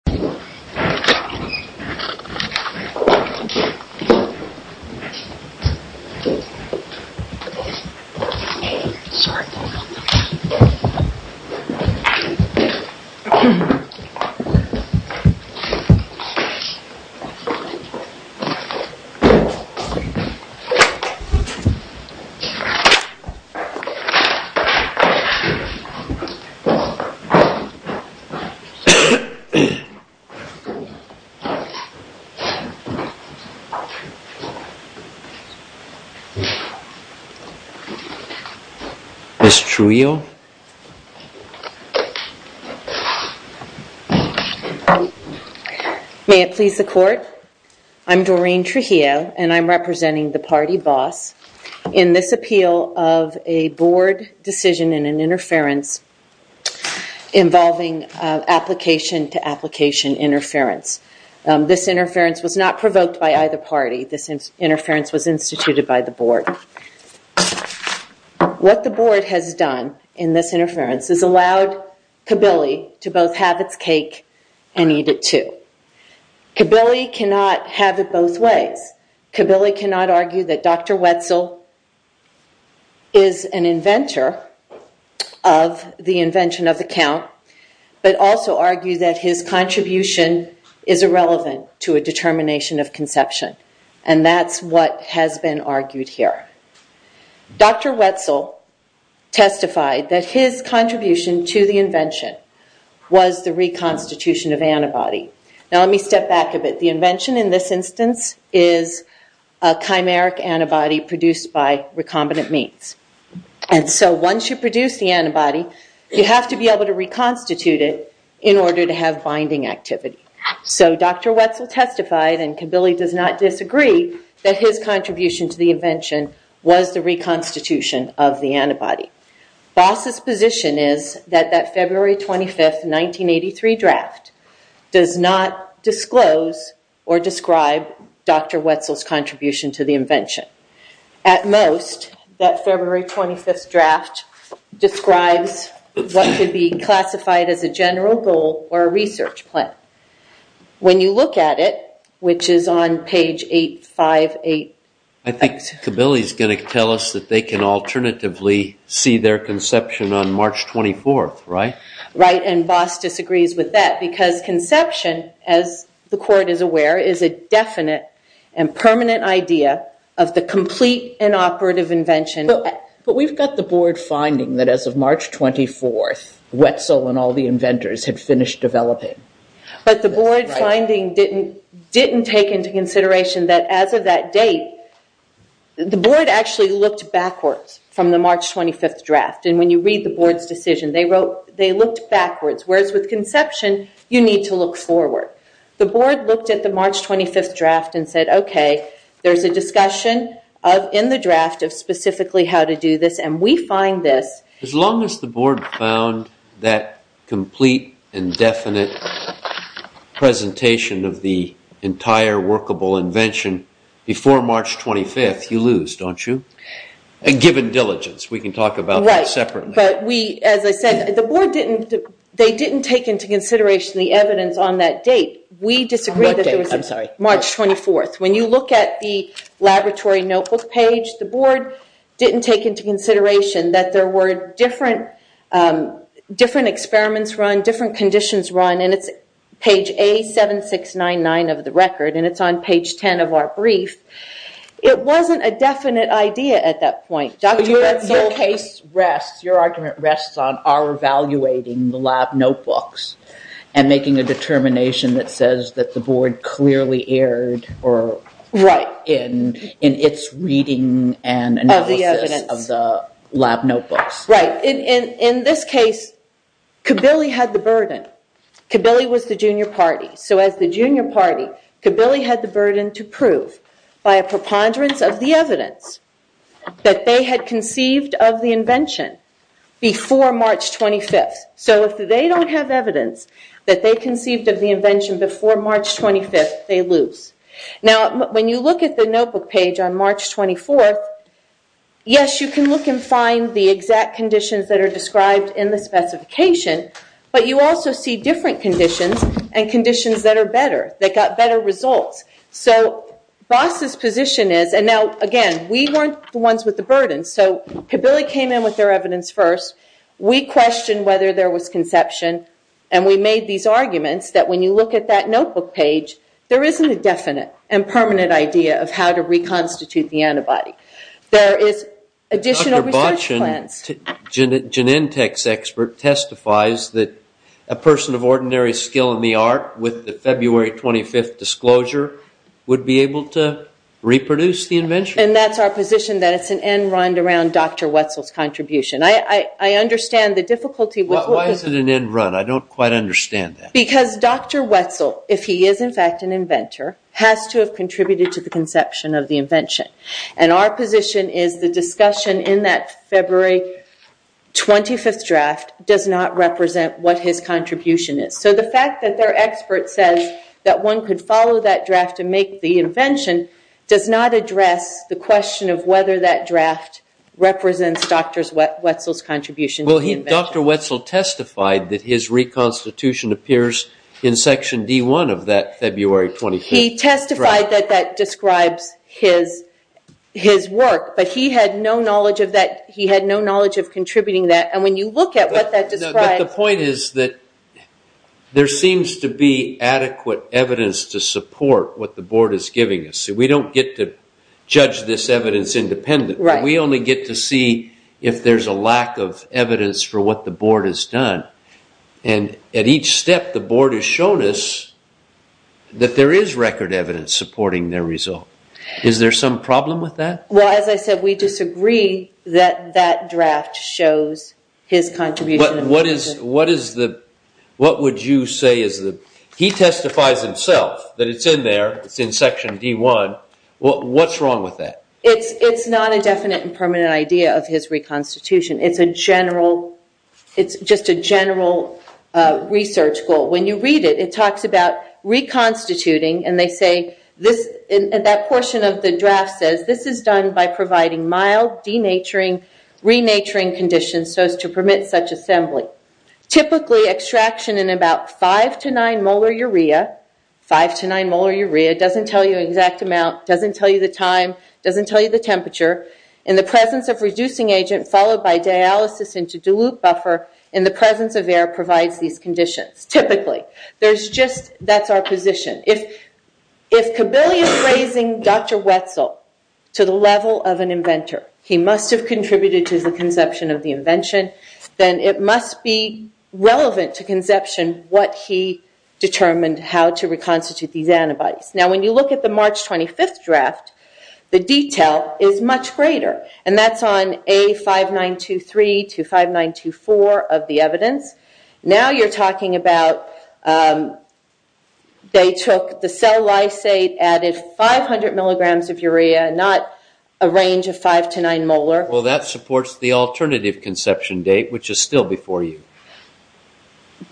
force or well he who question you %uh its report %uh this trio %uh %uh it please the court I'm Doreen Trujillo and I'm representing the party boss in this appeal of a board decision in an interference involving application to application interference %uh this interference was not provoked by either party this is interference was instituted by the board what the board has done in this interference is allowed Kabili to both have its cake and eat it too Kabili cannot have it both ways Kabili cannot argue that Dr. Wetzel is an inventor of the invention of the count but also argue that his contribution is irrelevant to a determination of conception and that's what has been argued here Dr. Wetzel testified that his contribution to the invention was the reconstitution of antibody now let me step back a bit the invention in this instance is a chimeric antibody produced by recombinant means and so once you produce the antibody you have to be able to reconstitute it in order to have binding activity so Dr. Wetzel testified and Kabili does not disagree that his contribution to the invention was the reconstitution of the antibody boss's position is that that February 25th 1983 draft does not disclose or describe Dr. Wetzel's contribution to the invention at most that February 25th draft describes what could be classified as a general goal or a research plan when you look at it which is on page 858 I think Kabili is going to tell us that they can alternatively see their conception on March 24th right? right and boss disagrees with that because conception as the court is aware is a definite and permanent idea of the complete inoperative invention but we've got the board finding that as of March 24th Wetzel and all the inventors had finished developing but the board finding didn't didn't take into consideration that as of that date the board actually looked backwards from the March 25th draft and when you read the board's decision they wrote they looked backwards whereas with conception you need to look forward the board looked at the March 25th draft and said okay there's a discussion in the draft of specifically how to do this and we find this as long as the board found that complete indefinite presentation of the entire workable invention before March 25th you lose don't you given diligence we can talk about that separately but we as I said the board didn't they didn't take into consideration the evidence on that date we disagree with that I'm sorry March 24th when you look at the laboratory notebook page the board didn't take into consideration that there were different uh... different experiments run different conditions run and it's page A7699 of the record and it's on page ten of our brief it wasn't a definite idea at that point Dr. Wetzel your argument rests on our evaluating the lab notebooks and making a determination that says that the board clearly erred right in its reading and analysis of the lab notebooks right in this case Kabili had the burden Kabili was the junior party so as the junior party Kabili had the burden to prove by a preponderance of the evidence that they had conceived of the invention before March 25th so if they don't have evidence that they conceived of the invention before March 25th they lose now when you look at the notebook page on March 24th yes you can look and find the exact conditions that are described in the specification but you also see different conditions and conditions that are better that got better results so boss's position is and now again we weren't the ones with the burden so Kabili came in with their evidence first we questioned whether there was conception and we made these arguments that when you look at that notebook page there isn't a definite and permanent idea of how to reconstitute the antibody there is additional research plans Janentech's expert testifies that a person of ordinary skill in the art with the February 25th disclosure would be able to reproduce the invention and that's our position that it's an end round around Dr. Wetzel's contribution I understand the difficulty with why is it an end run I don't quite understand that because Dr. Wetzel if he is in fact an inventor has to have contributed to the conception of the invention and our position is the discussion in that February 25th draft does not represent what his contribution is so the fact that their expert says that one could follow that draft to make the invention does not address the question of whether that draft represents Dr. Wetzel's contribution well Dr. Wetzel testified that his reconstitution appears in section D1 of that February 25th he testified that that describes his his work but he had no knowledge of that he had no knowledge of contributing that and when you look at what that describes the point is that there seems to be adequate evidence to support what the board is giving us so we don't get to see if there's a lack of evidence for what the board has done and at each step the board has shown us that there is record evidence supporting their result is there some problem with that well as I said we disagree that that draft shows his contribution what is what is the what would you say is the he testifies himself that it's in there it's in section D1 well what's wrong with that it's it's not a definite and permanent idea of his reconstitution it's a general it's just a general research goal when you read it it talks about reconstituting and they say this in that portion of the draft says this is done by providing mild denaturing renaturing conditions so as to permit such assembly typically extraction in about five to nine molar urea five to nine molar urea doesn't tell you exact amount doesn't tell you the time doesn't tell you the temperature in the presence of reducing agent followed by dialysis into dilute buffer in the presence of air provides these conditions typically there's just that's our position if if Kabilia is raising Dr. Wetzel to the level of an inventor he must have contributed to the conception of the invention then it must be relevant to conception what he determined how to reconstitute these on the March 25th draft the detail is much greater and that's on A5923 to 5924 of the evidence now you're talking about they took the cell lysate added 500 milligrams of urea not a range of five to nine molar well that supports the alternative conception date which is still before you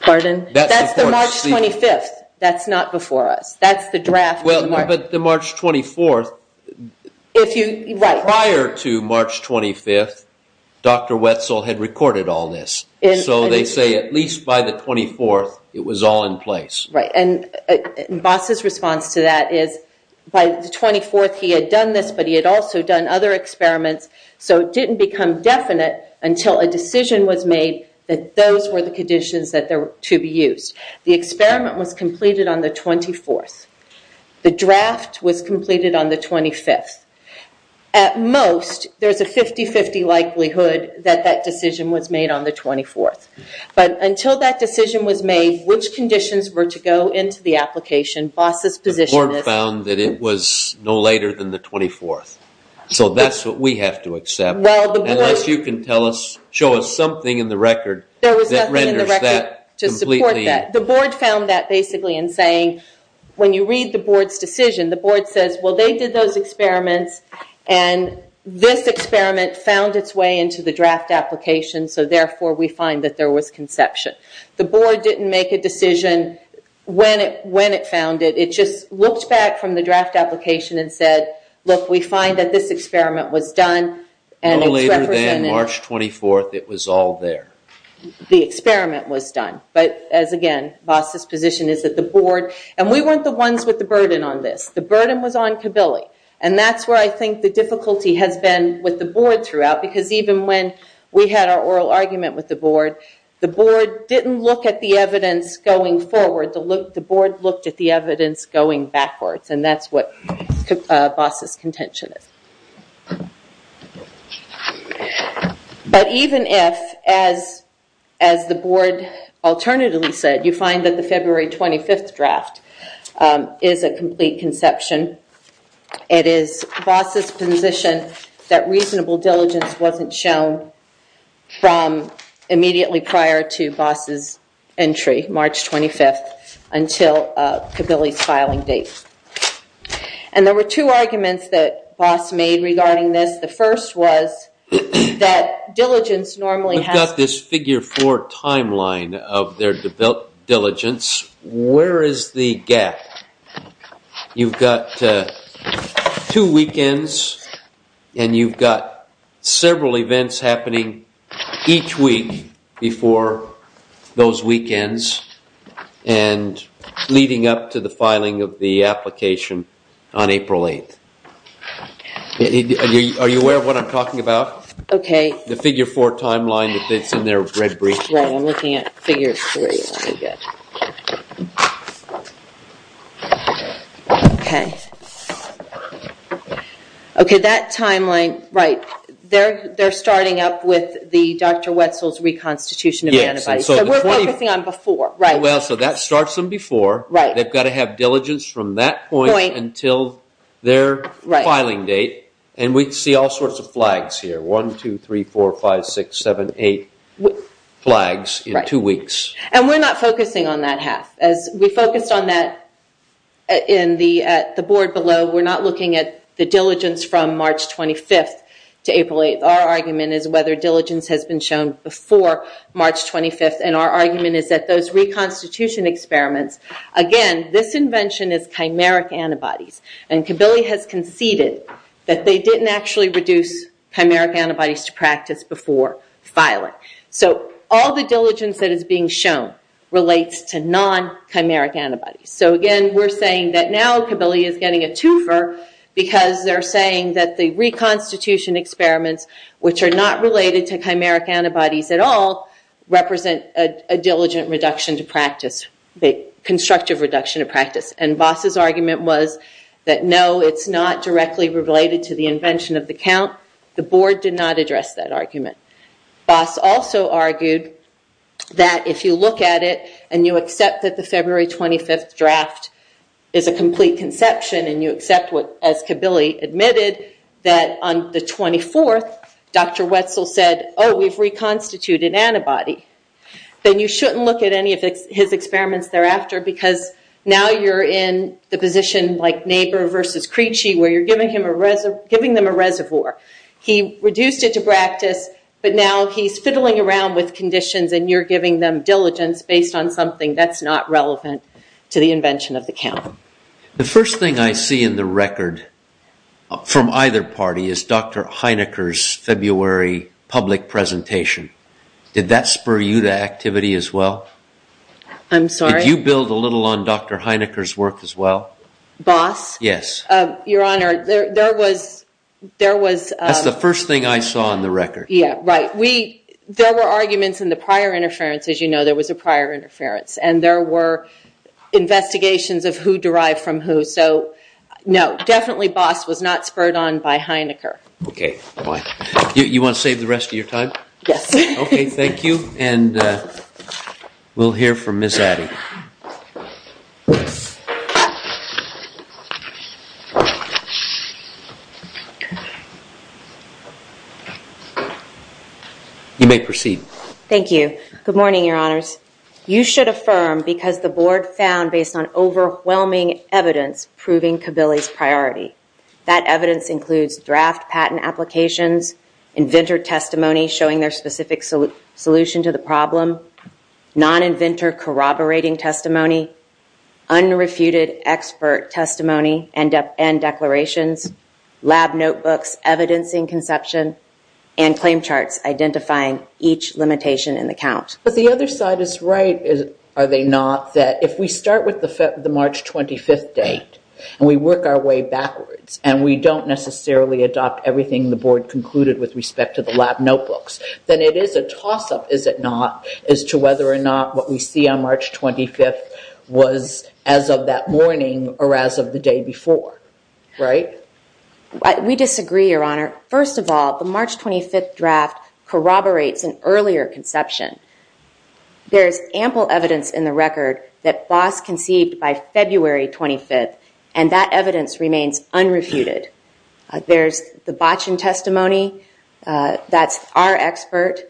pardon that's the March 25th that's not March 24th if you prior to March 25th Dr. Wetzel had recorded all this so they say at least by the 24th it was all in place right and boss's response to that is by the 24th he had done this but he had also done other experiments so it didn't become definite until a decision was made that those were the conditions that there were to be used the experiment was completed on the 24th the draft was completed on the 25th at most there's a 50-50 likelihood that that decision was made on the 24th but until that decision was made which conditions were to go into the application boss's position is found that it was no later than the 24th so that's what we have to accept well unless you can tell us show us something in the record that renders that to support that the board found that basically in saying when you read the board's decision the board says well they did those experiments and this experiment found its way into the draft application so therefore we find that there was conception the board didn't make a decision when it when it found it it just looked back from the draft application and said look we find that this experiment was done and later than March 24th it was all there the experiment was done but as again boss's position is that the board and we weren't the ones with the burden on this the burden was on kabili and that's where i think the difficulty has been with the board throughout because even when we had our oral argument with the board the board didn't look at the evidence going forward to look the board looked at the evidence going backwards and that's what boss's contention is but even if as as the board alternatively said you find that the February 25th draft is a complete conception it is boss's position that reasonable diligence wasn't shown from immediately prior to boss's entry March 25th until kabili's filing date and there were two arguments that boss made regarding this the first was that diligence normally has this figure four timeline of their developed diligence where is the gap you've got two weekends and you've got several events happening each week before those weekends and leading up to the filing of the are you aware of what i'm talking about okay the figure four timeline that's in their red brief right i'm looking at figure three okay okay that timeline right there they're starting up with the dr wetzel's reconstitution yes so we're focusing on before right well so that starts them before right they've got to have diligence from that point until their filing date and we see all sorts of flags here one two three four five six seven eight flags in two weeks and we're not focusing on that half as we focused on that in the at the board below we're not looking at the diligence from March 25th to April 8th our argument is whether diligence has been shown before March 25th and our argument is that those reconstitution experiments again this invention is chimeric antibodies and Kabili has conceded that they didn't actually reduce chimeric antibodies to practice before filing so all the diligence that is being shown relates to non-chimeric antibodies so again we're saying that now Kabili is getting a twofer because they're saying that the reconstitution experiments which are not related to chimeric antibodies at all represent a diligent reduction to practice the constructive reduction of practice and boss's argument was that no it's not directly related to the invention of the count the board did not address that argument boss also argued that if you look at it and you accept that the February 25th draft is a complete conception and you accept what as Kabili admitted that on the 24th dr wetzel said oh we've reconstituted an antibody then you shouldn't look at any of his experiments thereafter because now you're in the position like neighbor versus creechi where you're giving him a reservoir giving them a reservoir he reduced it to practice but now he's fiddling around with conditions and you're giving them diligence based on something that's not relevant to the invention of the count the first thing i see in the record from either party is dr heinecker's february public presentation did that spur you to activity as well i'm sorry you build a little on dr heinecker's work as well boss yes uh your honor there there was there was that's the first thing i saw on the record yeah right we there were arguments in the prior interference as you know there was a prior interference and there were investigations of who derived from who so no definitely boss was not spurred on by heinecker okay fine you want to save the rest of your time yes okay thank you and uh we'll hear from miss addy you may proceed thank you good morning your honors you should affirm because the board found based on overwhelming evidence proving kabilis priority that evidence includes draft patent applications inventor testimony showing their specific solution to the problem non-inventor corroborating testimony unrefuted expert testimony and end declarations lab notebooks evidencing conception and claim charts identifying each limitation in the count but the other side is right are they not that if we start with the march 25th date and we work our way backwards and we don't necessarily adopt everything the board concluded with respect to the lab notebooks then it is a toss-up is it not as to whether or not what we see on march 25th was as of that morning or as of the day before right we disagree your honor first of all the march 25th draft corroborates an earlier conception there's ample evidence in the record that boss conceived by february 25th and that evidence remains unrefuted there's the botchin testimony that's our expert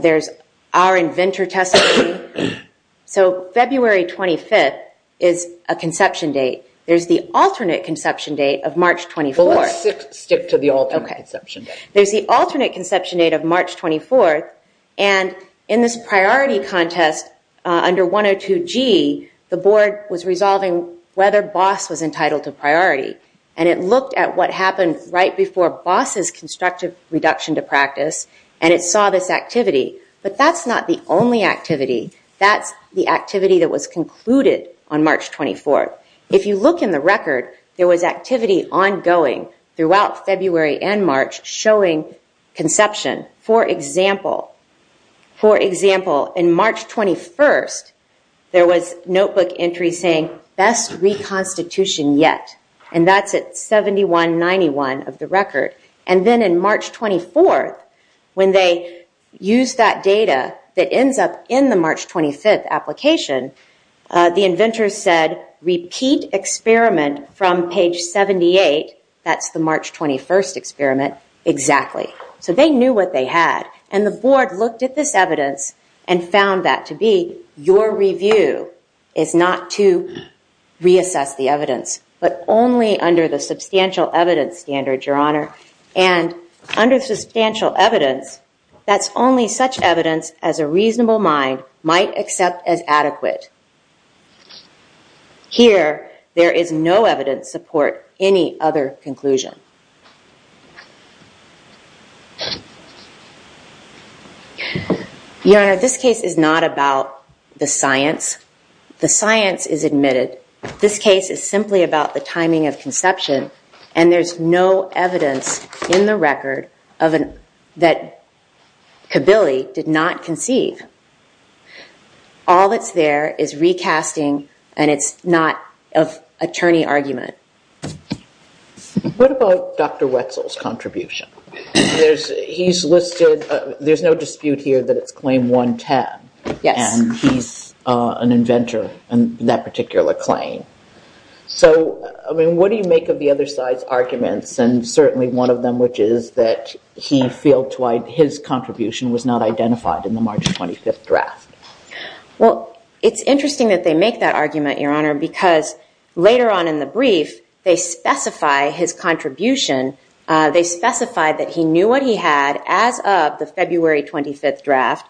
there's our inventor testimony so february 25th is a conception date there's the alternate conception date of march 24 stick to the alternate conception there's the alternate conception date of march 24th and in this priority contest under 102g the board was resolving whether boss was entitled to priority and it looked at what happened right before boss's constructive reduction to practice and it saw this activity but that's not the only activity that's the activity that was concluded on march 24th if you look in the record there was activity ongoing throughout february and march showing conception for example for example in march 21st there was notebook entry saying best reconstitution yet and that's at 7191 of the record and then in march 24th when they use that data that ends up in the march 25th application the inventor said repeat experiment from page 78 that's the march 21st experiment exactly so they knew what they had and the board looked at this evidence and found that to be your review is not to reassess the evidence but only under the substantial evidence standard your honor and under substantial evidence that's only such evidence as a reasonable mind might accept as adequate here there is no evidence support any other conclusion your honor this case is not about the science the science is admitted this case is simply about the timing of conception and there's no evidence in the record of an that kabili did not conceive all that's there is recasting and it's not of attorney argument what about dr wetzel's contribution there's he's listed there's no dispute here that it's claim 110 yes he's an inventor and that particular claim so i mean what do you make of the other side's arguments and certainly one of them which is that he feels like his contribution was not identified in the march 25th draft well it's interesting that they make that argument your honor because later on in the brief they specify his contribution they specified that he knew what he had as of the february 25th draft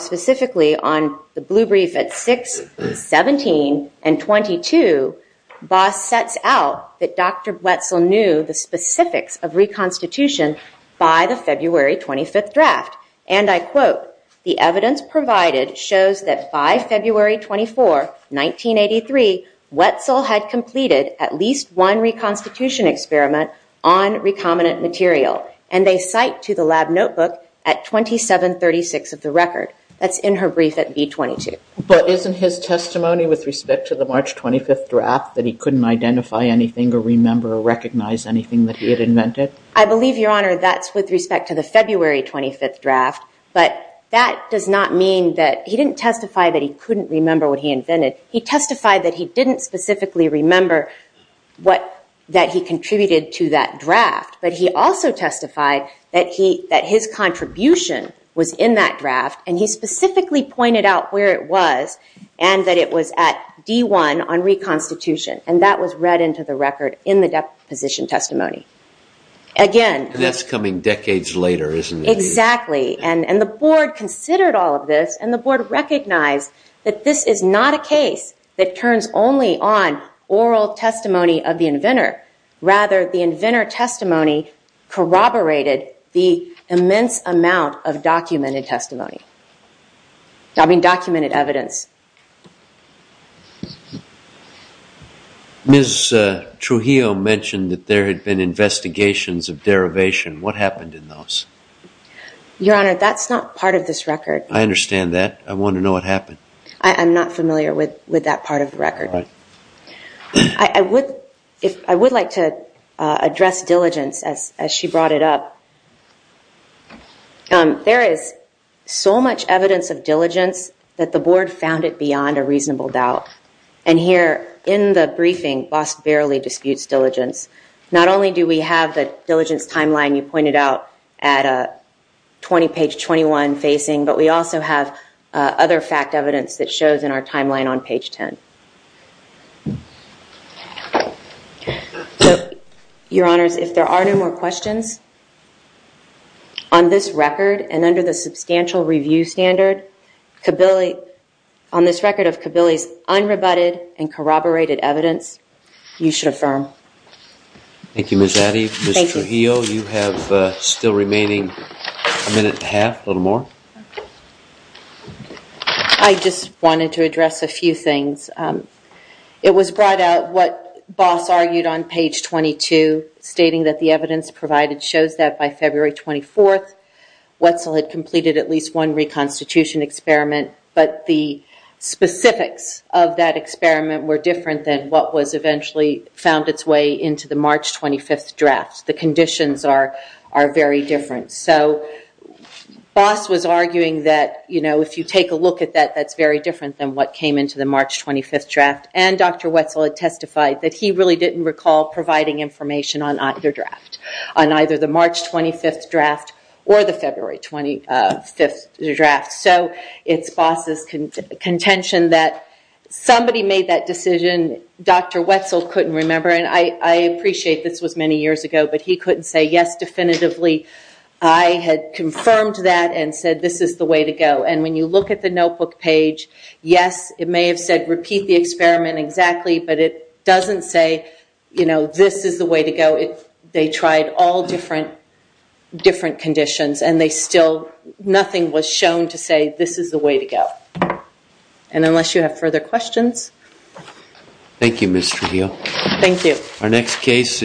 specifically on the blue brief at 6 17 and 22 boss sets out that dr wetzel knew the constitution by the february 25th draft and i quote the evidence provided shows that by february 24 1983 wetzel had completed at least one reconstitution experiment on recombinant material and they cite to the lab notebook at 27 36 of the record that's in her brief at b 22 but isn't his testimony with respect to the march 25th draft that he couldn't identify anything or remember or your honor that's with respect to the february 25th draft but that does not mean that he didn't testify that he couldn't remember what he invented he testified that he didn't specifically remember what that he contributed to that draft but he also testified that he that his contribution was in that draft and he specifically pointed out where it was and that it was at d1 on reconstitution and that was read into the record in the deposition testimony again that's coming decades later isn't it exactly and and the board considered all of this and the board recognized that this is not a case that turns only on oral testimony of the inventor rather the inventor testimony corroborated the immense amount of documented testimony i mean documented evidence miss uh trujillo mentioned that there had been investigations of derivation what happened in those your honor that's not part of this record i understand that i want to know what happened i'm not familiar with with that part of the record i i would if i would like to uh address diligence as as she brought it up um there is so much evidence of diligence that the board found it beyond a reasonable doubt and here in the briefing boss barely disputes diligence not only do we have the diligence timeline you pointed out at a 20 page 21 facing but we also have other fact evidence that shows in our timeline on page 10 so your honors if there are no more questions on this record and under the substantial review standard kabili on this record of kabili's unrebutted and corroborated evidence you should affirm thank you miss addy miss trujillo you have uh still remaining a minute and a half a little more i just wanted to address a few things um it was brought out what boss argued on page 22 stating that the evidence provided shows that by february 24th reconstitution experiment but the specifics of that experiment were different than what was eventually found its way into the march 25th draft the conditions are are very different so boss was arguing that you know if you take a look at that that's very different than what came into the march 25th draft and dr wetzel had testified that he really didn't recall providing information on either draft on either the march 25th draft or the draft so it's boss's contention that somebody made that decision dr wetzel couldn't remember and i i appreciate this was many years ago but he couldn't say yes definitively i had confirmed that and said this is the way to go and when you look at the notebook page yes it may have said repeat the experiment exactly but it doesn't say you know this is the way to go if they tried all different different conditions and they still nothing was shown to say this is the way to go and unless you have further questions thank you mr thank you our next case is